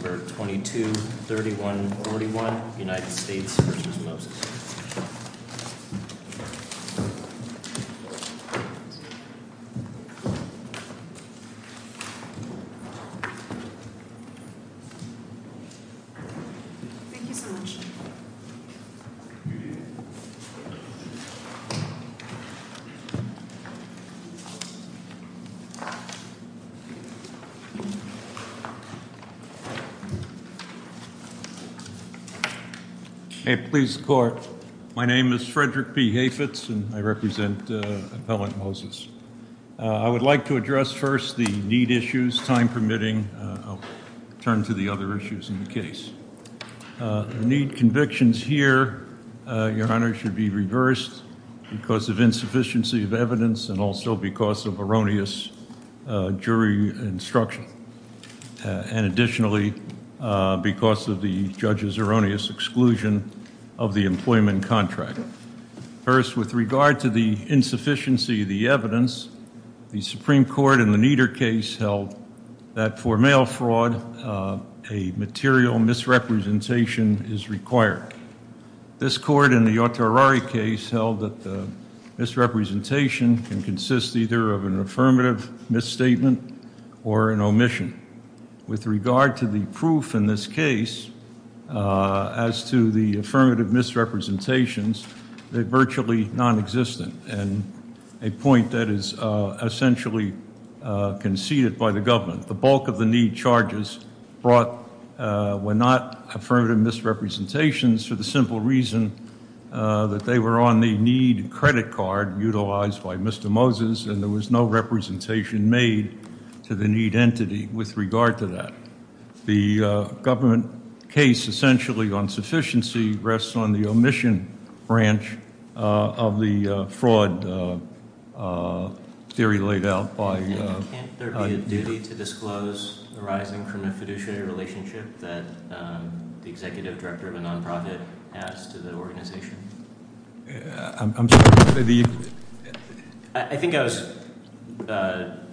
22-31-41 United States v. Moses I would like to address first the need issues, time permitting. I'll turn to the other issues in the case. The need convictions here, Your Honor, should be reversed because of insufficiency of evidence and also because of erroneous jury instruction. And additionally, because of the judge's erroneous exclusion of the employment contract. First, with regard to the insufficiency of the evidence, the Supreme Court in the Nieder case held that for mail fraud, a material misrepresentation is required. In fact, this court in the Oterari case held that the misrepresentation can consist either of an affirmative misstatement or an omission. With regard to the proof in this case as to the affirmative misrepresentations, they're virtually non-existent and a point that is essentially conceded by the government. The bulk of the need charges brought were not affirmative misrepresentations for the simple reason that they were on the need credit card utilized by Mr. Moses, and there was no representation made to the need entity with regard to that. The government case essentially on sufficiency rests on the omission branch of the fraud theory laid out by- Can't there be a duty to disclose arising from a fiduciary relationship that the executive director of a nonprofit has to the organization? I'm sorry. I think I was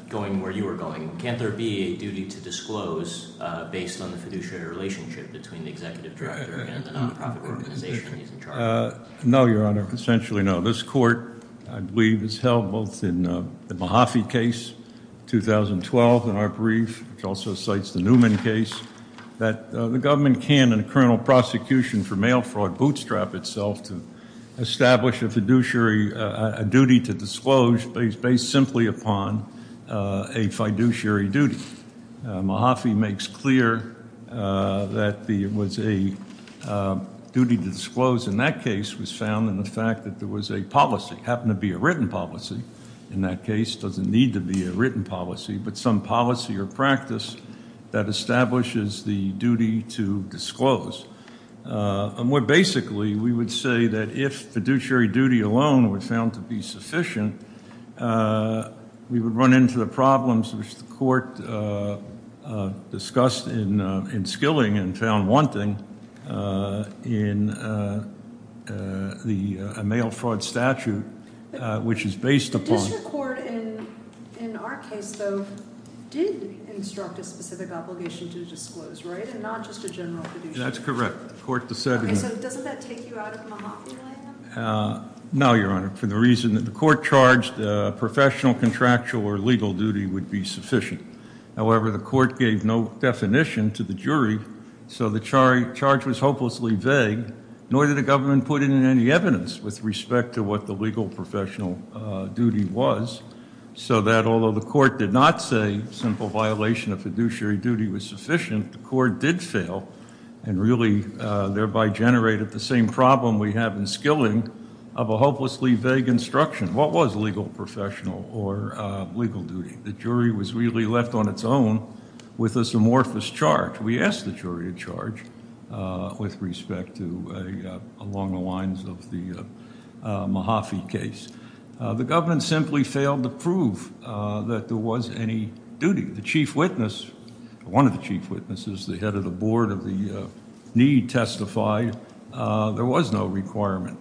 going where you were going. Can't there be a duty to disclose based on the fiduciary relationship between the executive director and the nonprofit organization he's in charge of? No, Your Honor, essentially no. I believe it's held both in the Mahaffey case, 2012 in our brief, which also cites the Newman case, that the government can in a criminal prosecution for mail fraud bootstrap itself to establish a fiduciary duty to disclose based simply upon a fiduciary duty. Mahaffey makes clear that it was a duty to disclose in that case was found in the fact that there was a policy, happened to be a written policy in that case, doesn't need to be a written policy, but some policy or practice that establishes the duty to disclose. More basically, we would say that if fiduciary duty alone were found to be sufficient, we would run into the problems which the court discussed in Skilling and found wanting in the mail fraud statute, which is based upon- The district court in our case, though, did instruct a specific obligation to disclose, right, and not just a general fiduciary duty. That's correct. The court decided- Okay, so doesn't that take you out of Mahaffey land? No, Your Honor, for the reason that the court charged professional contractual or legal duty would be sufficient. However, the court gave no definition to the jury, so the charge was hopelessly vague, nor did the government put in any evidence with respect to what the legal professional duty was, so that although the court did not say simple violation of fiduciary duty was sufficient, the court did fail and really thereby generated the same problem we have in Skilling of a hopelessly vague instruction. What was legal professional or legal duty? The jury was really left on its own with this amorphous charge. We asked the jury to charge with respect to along the lines of the Mahaffey case. The government simply failed to prove that there was any duty. The chief witness, one of the chief witnesses, the head of the board of the need, testified there was no requirement.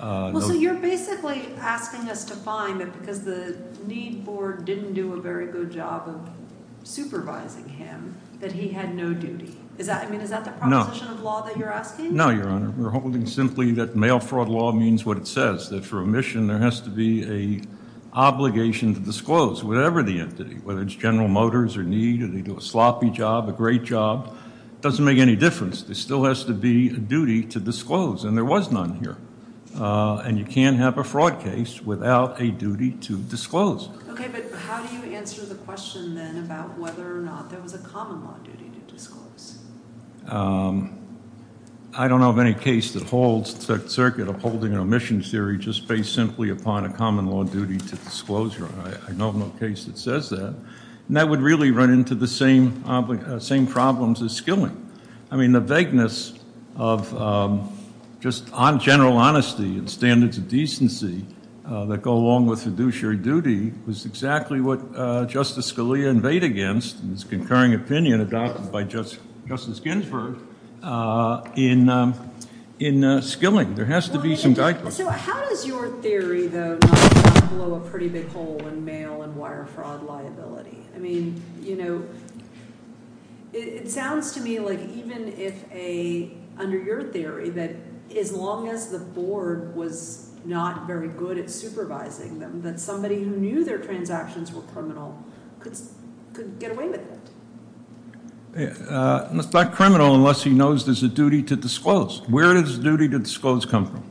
Well, so you're basically asking us to find that because the need board didn't do a very good job of supervising him that he had no duty. I mean, is that the proposition of law that you're asking? No, Your Honor. We're holding simply that mail fraud law means what it says, that for a mission there has to be an obligation to disclose whatever the entity, whether it's General Motors or need, or they do a sloppy job, a great job. It doesn't make any difference. There still has to be a duty to disclose, and there was none here. And you can't have a fraud case without a duty to disclose. Okay, but how do you answer the question then about whether or not there was a common law duty to disclose? I don't know of any case that holds the circuit of holding an omission theory just based simply upon a common law duty to disclose. I know of no case that says that. And that would really run into the same problems as skilling. I mean, the vagueness of just general honesty and standards of decency that go along with fiduciary duty was exactly what Justice Scalia invaded against in his concurring opinion adopted by Justice Ginsburg in skilling. There has to be some – So how does your theory, though, not blow a pretty big hole in mail and wire fraud liability? I mean, you know, it sounds to me like even if a – under your theory that as long as the board was not very good at supervising them, that somebody who knew their transactions were criminal could get away with it. It's not criminal unless he knows there's a duty to disclose. Where does the duty to disclose come from?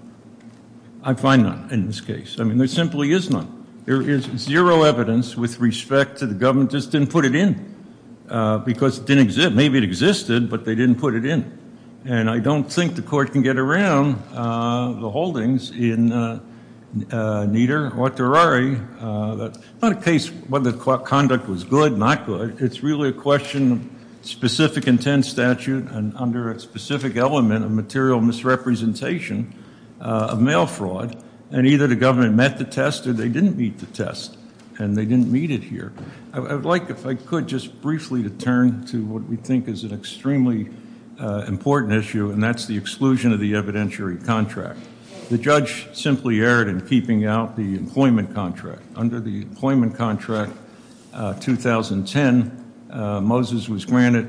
I find none in this case. I mean, there simply is none. There is zero evidence with respect to the government just didn't put it in because it didn't exist. Maybe it existed, but they didn't put it in. And I don't think the court can get around the holdings in Nieder or Terari. It's not a case whether conduct was good, not good. It's really a question of specific intent statute and under a specific element of material misrepresentation of mail fraud. And either the government met the test or they didn't meet the test, and they didn't meet it here. I would like, if I could, just briefly to turn to what we think is an extremely important issue, and that's the exclusion of the evidentiary contract. The judge simply erred in keeping out the employment contract. Under the employment contract 2010, Moses was granted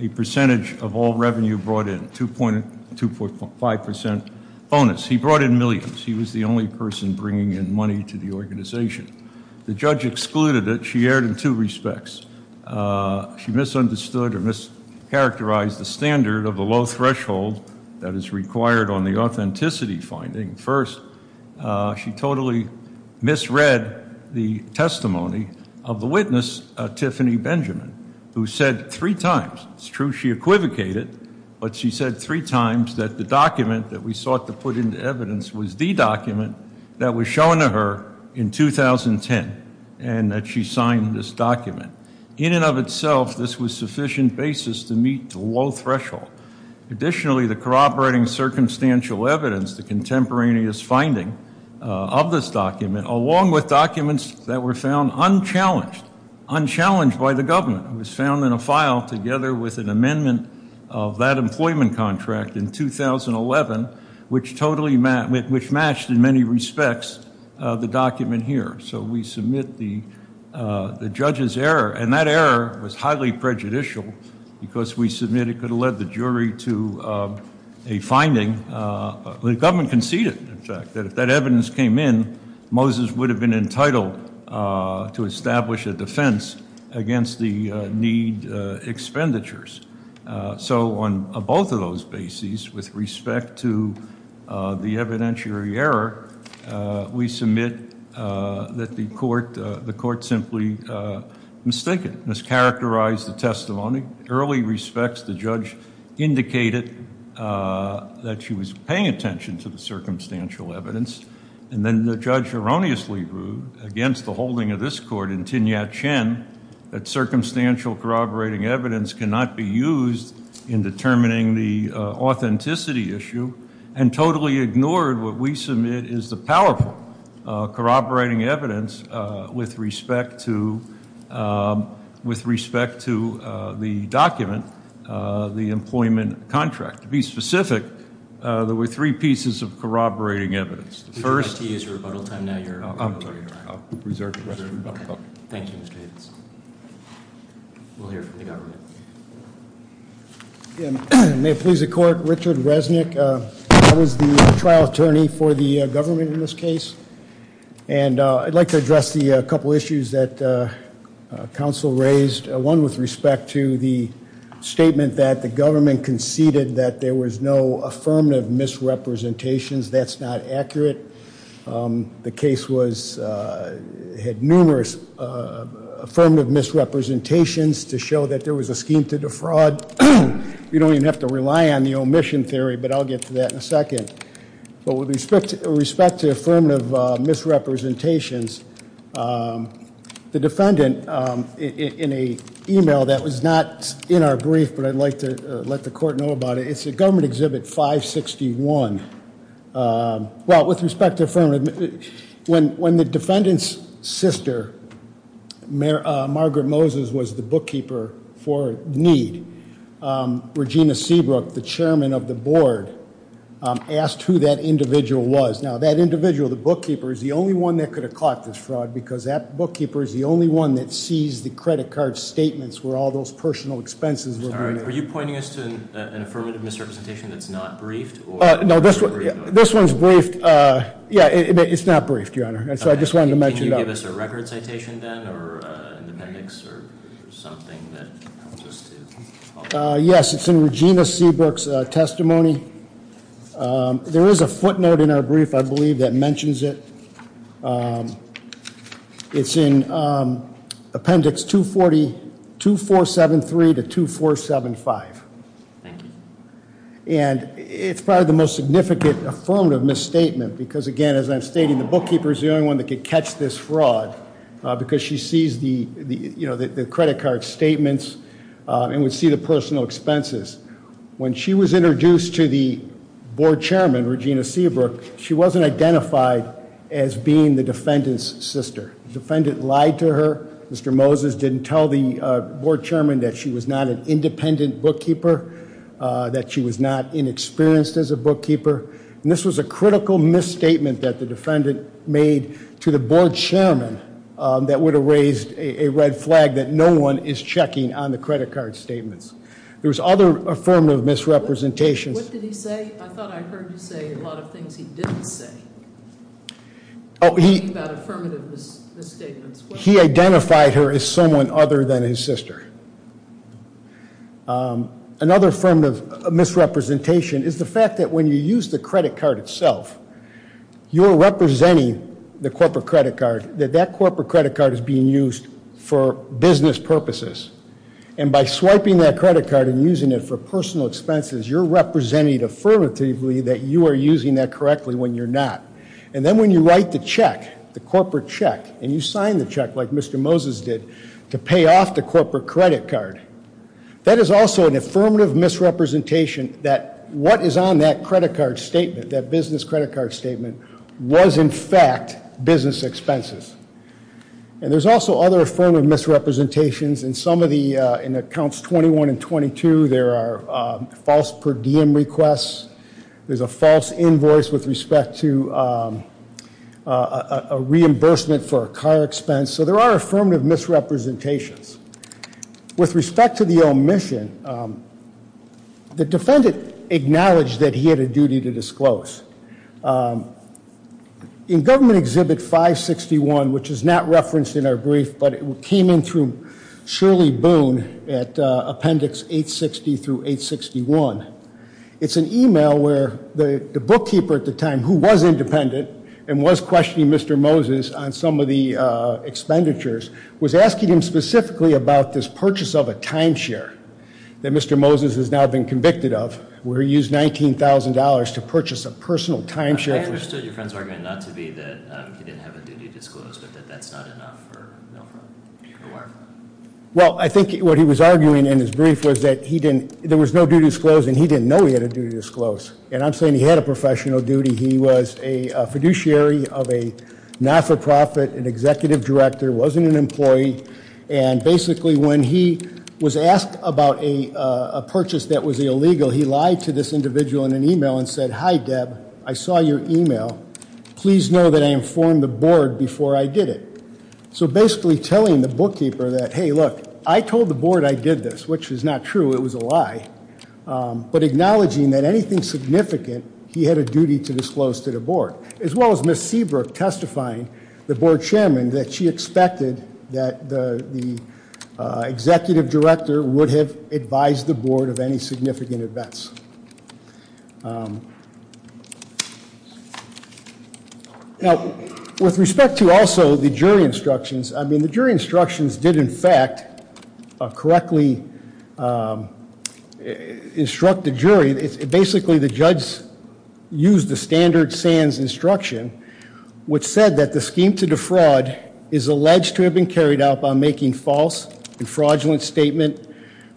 a percentage of all revenue brought in, 2.5% bonus. He brought in millions. He was the only person bringing in money to the organization. The judge excluded it. She erred in two respects. She misunderstood or mischaracterized the standard of the low threshold that is required on the authenticity finding. First, she totally misread the testimony of the witness, Tiffany Benjamin, who said three times, it's true she equivocated, but she said three times that the document that we sought to put into evidence was the document that was shown to her in 2010, and that she signed this document. In and of itself, this was sufficient basis to meet the low threshold. Additionally, the corroborating circumstantial evidence, the contemporaneous finding of this document, along with documents that were found unchallenged, unchallenged by the government, was found in a file together with an amendment of that employment contract in 2011, which matched in many respects the document here. So we submit the judge's error, and that error was highly prejudicial because we submit it could have led the jury to a finding. The government conceded, in fact, that if that evidence came in, Moses would have been entitled to establish a defense against the need expenditures. So on both of those bases, with respect to the evidentiary error, we submit that the court simply mistaken, mischaracterized the testimony. In early respects, the judge indicated that she was paying attention to the circumstantial evidence, and then the judge erroneously ruled against the holding of this court in Tin Yat-chen that circumstantial corroborating evidence cannot be used in determining the authenticity issue, and totally ignored what we submit is the powerful corroborating evidence with respect to the document, the employment contract. To be specific, there were three pieces of corroborating evidence. The first- Mr. Whitey, it's rebuttal time now. I'm sorry. I'll preserve the rebuttal. Thank you, Mr. Haynes. We'll hear from the government. May it please the court, Richard Resnick, I was the trial attorney for the government in this case, and I'd like to address the couple issues that counsel raised, one with respect to the statement that the government conceded that there was no affirmative misrepresentations. That's not accurate. The case had numerous affirmative misrepresentations to show that there was a scheme to defraud. You don't even have to rely on the omission theory, but I'll get to that in a second. But with respect to affirmative misrepresentations, the defendant, in an email that was not in our brief, but I'd like to let the court know about it, it's at Government Exhibit 561. With respect to affirmative, when the defendant's sister, Margaret Moses, was the bookkeeper for need, Regina Seabrook, the chairman of the board, asked who that individual was. Now, that individual, the bookkeeper, is the only one that could have caught this fraud because that bookkeeper is the only one that sees the credit card statements where all those personal expenses were- Are you pointing us to an affirmative misrepresentation that's not briefed? No, this one's briefed. Yeah, it's not briefed, Your Honor, and so I just wanted to mention that. Can you give us a record citation then or an appendix or something that helps us to- Yes, it's in Regina Seabrook's testimony. There is a footnote in our brief, I believe, that mentions it. It's in Appendix 2473 to 2475. Thank you. And it's probably the most significant affirmative misstatement because, again, as I'm stating, the bookkeeper is the only one that could catch this fraud because she sees the credit card statements and would see the personal expenses. When she was introduced to the board chairman, Regina Seabrook, she wasn't identified as being the defendant's sister. The defendant lied to her. Mr. Moses didn't tell the board chairman that she was not an independent bookkeeper, that she was not inexperienced as a bookkeeper, and this was a critical misstatement that the defendant made to the board chairman that would have raised a red flag that no one is checking on the credit card statements. There was other affirmative misrepresentations. What did he say? I thought I heard you say a lot of things he didn't say. Oh, he- About affirmative misstatements. He identified her as someone other than his sister. Another affirmative misrepresentation is the fact that when you use the credit card itself, you're representing the corporate credit card, that that corporate credit card is being used for business purposes, and by swiping that credit card and using it for personal expenses, you're representing affirmatively that you are using that correctly when you're not. And then when you write the check, the corporate check, and you sign the check like Mr. Moses did to pay off the corporate credit card, that is also an affirmative misrepresentation that what is on that credit card statement, that business credit card statement, was in fact business expenses. And there's also other affirmative misrepresentations. In some of the accounts 21 and 22, there are false per diem requests. There's a false invoice with respect to a reimbursement for a car expense. So there are affirmative misrepresentations. With respect to the omission, the defendant acknowledged that he had a duty to disclose. In Government Exhibit 561, which is not referenced in our brief, but it came in through Shirley Boone at Appendix 860 through 861, it's an e-mail where the bookkeeper at the time, who was independent and was questioning Mr. Moses on some of the expenditures, was asking him specifically about this purchase of a timeshare that Mr. Moses has now been convicted of where he used $19,000 to purchase a personal timeshare. I understood your friend's argument not to be that he didn't have a duty to disclose, but that that's not enough for Milford. Well, I think what he was arguing in his brief was that there was no duty to disclose and he didn't know he had a duty to disclose. And I'm saying he had a professional duty. He was a fiduciary of a not-for-profit, an executive director, wasn't an employee, and basically when he was asked about a purchase that was illegal, he lied to this individual in an e-mail and said, Hi, Deb, I saw your e-mail. Please know that I informed the board before I did it. So basically telling the bookkeeper that, Hey, look, I told the board I did this, which is not true. It was a lie. But acknowledging that anything significant, he had a duty to disclose to the board, as well as Miss Seabrook testifying, the board chairman, that she expected that the executive director would have advised the board of any significant events. Now, with respect to also the jury instructions, I mean, the jury instructions did in fact correctly instruct the jury. Basically, the judge used the standard SANS instruction, which said that the scheme to defraud is alleged to have been carried out by making false and fraudulent statement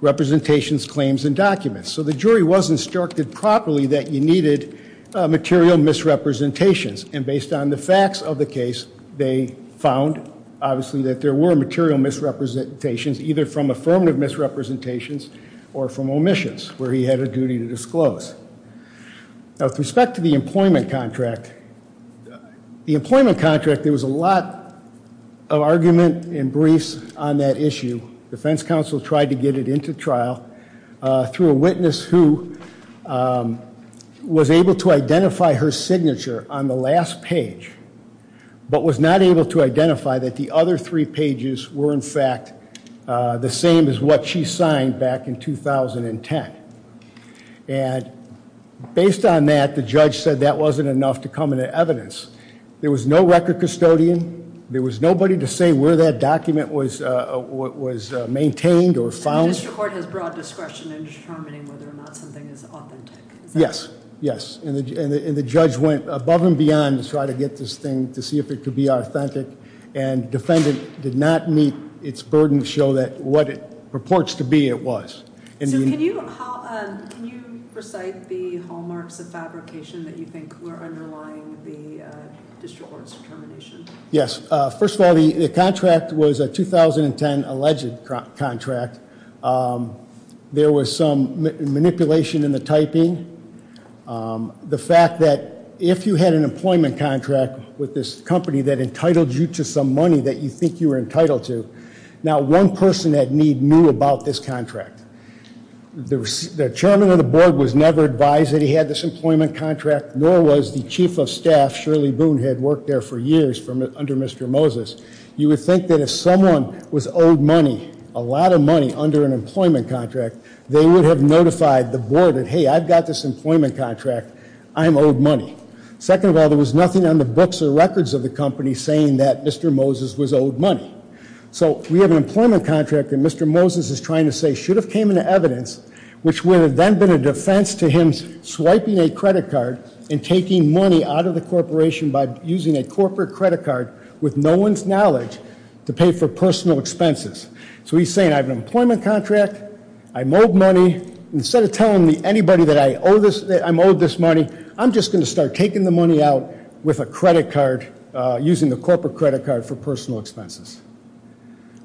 representations, claims, and documents. So the jury was instructed properly that you needed material misrepresentations. And based on the facts of the case, they found, obviously, that there were material misrepresentations, either from affirmative misrepresentations or from omissions, where he had a duty to disclose. Now, with respect to the employment contract, the employment contract, there was a lot of argument and briefs on that issue. Defense counsel tried to get it into trial through a witness who was able to identify her signature on the last page, but was not able to identify that the other three pages were, in fact, the same as what she signed back in 2010. And based on that, the judge said that wasn't enough to come into evidence. There was no record custodian. There was nobody to say where that document was maintained or found. The district court has broad discretion in determining whether or not something is authentic. Yes, yes. And the judge went above and beyond to try to get this thing to see if it could be authentic, and defendant did not meet its burden to show what it purports to be it was. So can you recite the hallmarks of fabrication that you think were underlying the district court's determination? Yes. First of all, the contract was a 2010 alleged contract. There was some manipulation in the typing. The fact that if you had an employment contract with this company that entitled you to some money that you think you were entitled to, not one person at need knew about this contract. The chairman of the board was never advised that he had this employment contract, nor was the chief of staff, Shirley Boone, had worked there for years under Mr. Moses. You would think that if someone was owed money, a lot of money, under an employment contract, they would have notified the board that, hey, I've got this employment contract. I'm owed money. Second of all, there was nothing on the books or records of the company saying that Mr. Moses was owed money. So we have an employment contract, and Mr. Moses is trying to say should have came into evidence, which would have then been a defense to him swiping a credit card and taking money out of the corporation by using a corporate credit card with no one's knowledge to pay for personal expenses. So he's saying, I have an employment contract. I'm owed money. Instead of telling anybody that I'm owed this money, I'm just going to start taking the money out with a credit card using the corporate credit card for personal expenses.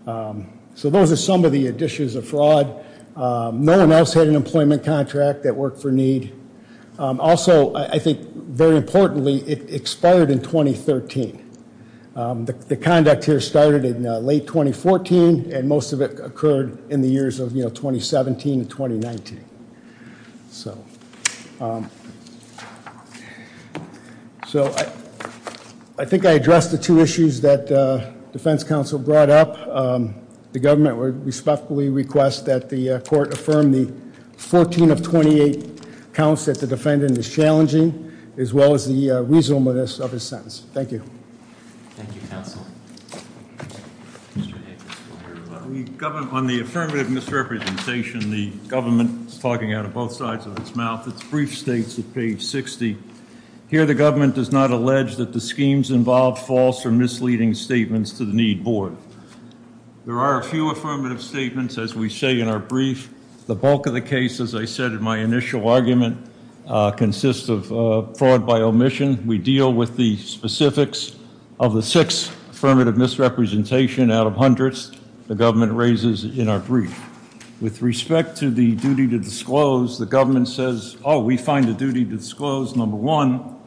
So those are some of the additions of fraud. No one else had an employment contract that worked for need. Also, I think very importantly, it expired in 2013. The conduct here started in late 2014, and most of it occurred in the years of 2017 and 2019. So I think I addressed the two issues that defense counsel brought up. The government would respectfully request that the court affirm the 14 of 28 counts that the defendant is challenging, as well as the reasonableness of his sentence. Thank you. Thank you, counsel. Mr. Hick? On the affirmative misrepresentation, the government is talking out of both sides of its mouth. Its brief states at page 60, here the government does not allege that the schemes involve false or misleading statements to the need board. There are a few affirmative statements, as we say in our brief. The bulk of the case, as I said in my initial argument, consists of fraud by omission. We deal with the specifics of the six affirmative misrepresentation out of hundreds the government raises in our brief. With respect to the duty to disclose, the government says, oh, we find a duty to disclose, number one,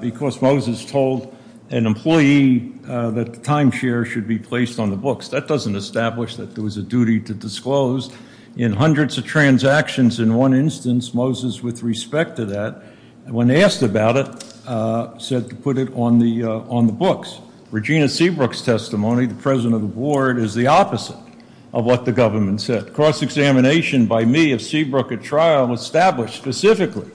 because Moses told an employee that the timeshare should be placed on the books. That doesn't establish that there was a duty to disclose. In hundreds of transactions in one instance, Moses, with respect to that, when asked about it, said to put it on the books. Regina Seabrook's testimony, the president of the board, is the opposite of what the government said. Cross-examination by me of Seabrook at trial established specifically,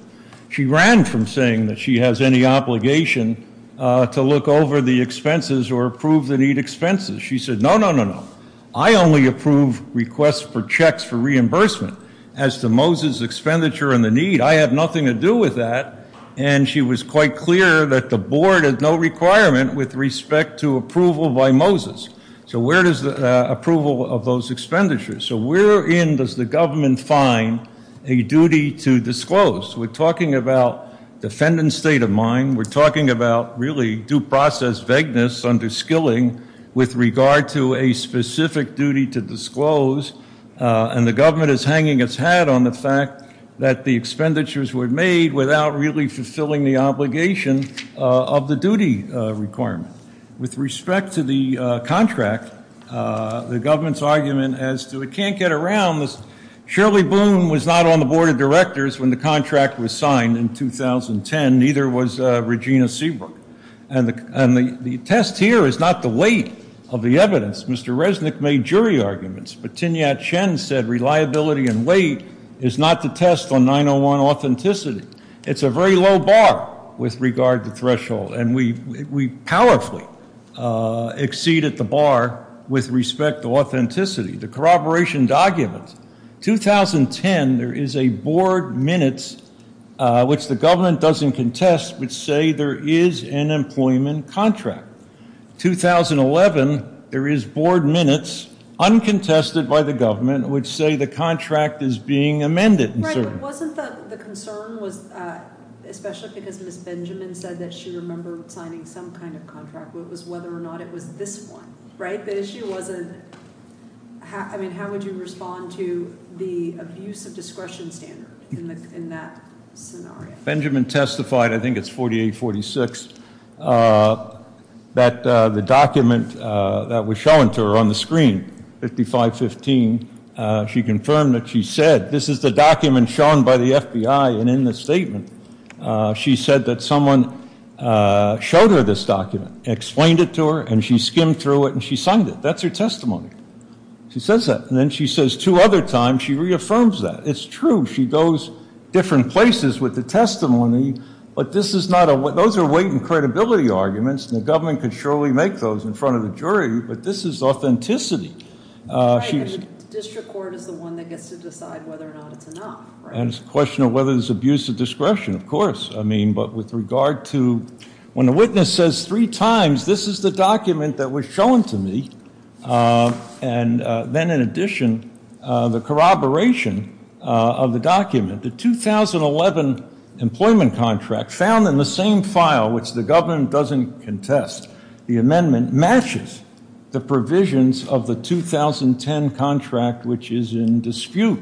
she ran from saying that she has any obligation to look over the expenses or approve the need expenses. She said, no, no, no, no. I only approve requests for checks for reimbursement. As to Moses' expenditure and the need, I have nothing to do with that. And she was quite clear that the board had no requirement with respect to approval by Moses. So where is the approval of those expenditures? So where in does the government find a duty to disclose? We're talking about defendant's state of mind. We're talking about really due process vagueness under skilling with regard to a specific duty to disclose. And the government is hanging its hat on the fact that the expenditures were made without really fulfilling the obligation of the duty requirement. With respect to the contract, the government's argument as to it can't get around, Shirley Boone was not on the board of directors when the contract was signed in 2010. Neither was Regina Seabrook. Mr. Resnick made jury arguments. But Tinyat Chen said reliability and weight is not to test on 901 authenticity. It's a very low bar with regard to threshold. And we powerfully exceed at the bar with respect to authenticity. The corroboration documents. 2010, there is a board minutes which the government doesn't contest but say there is an employment contract. 2011, there is board minutes uncontested by the government which say the contract is being amended. Wasn't the concern, especially because Ms. Benjamin said that she remembered signing some kind of contract, whether or not it was this one, right? The issue wasn't, I mean, how would you respond to the abuse of discretion standard in that scenario? Benjamin testified, I think it's 4846, that the document that was shown to her on the screen, 5515, she confirmed that she said this is the document shown by the FBI. And in the statement, she said that someone showed her this document, explained it to her, and she skimmed through it and she signed it. That's her testimony. She says that. And then she says two other times she reaffirms that. It's true. She goes different places with the testimony. But this is not a, those are weight and credibility arguments, and the government could surely make those in front of the jury. But this is authenticity. Right, and the district court is the one that gets to decide whether or not it's enough, right? And it's a question of whether there's abuse of discretion, of course. I mean, but with regard to, when a witness says three times this is the document that was shown to me, and then in addition, the corroboration of the document, the 2011 employment contract found in the same file, which the government doesn't contest, the amendment matches the provisions of the 2010 contract, which is in dispute.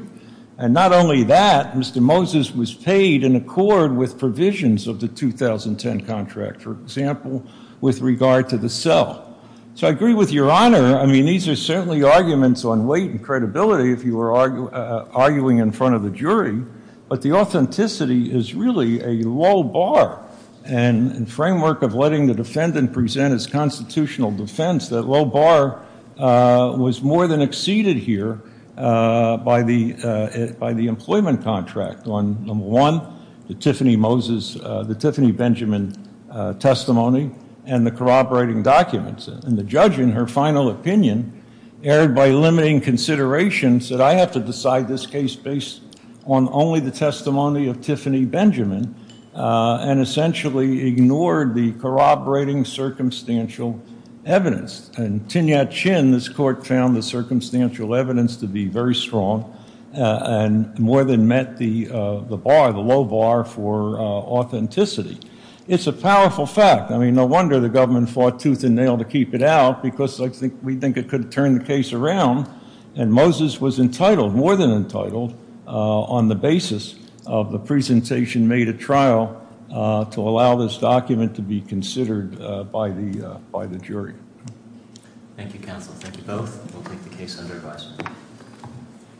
And not only that, Mr. Moses was paid in accord with provisions of the 2010 contract, for example, with regard to the cell. So I agree with Your Honor. I mean, these are certainly arguments on weight and credibility if you were arguing in front of the jury. But the authenticity is really a low bar, and framework of letting the defendant present his constitutional defense, that low bar was more than exceeded here by the employment contract on, number one, the Tiffany Benjamin testimony and the corroborating documents. And the judge, in her final opinion, erred by limiting considerations, said I have to decide this case based on only the testimony of Tiffany Benjamin, and essentially ignored the corroborating circumstantial evidence. And Tin-Yat-Chin, this court, found the circumstantial evidence to be very strong and more than met the bar, the low bar for authenticity. It's a powerful fact. I mean, no wonder the government fought tooth and nail to keep it out, because we think it could turn the case around. And Moses was entitled, more than entitled, on the basis of the presentation made at trial to allow this document to be considered by the jury. Thank you, counsel. Thank you both. We'll take the case under advisory.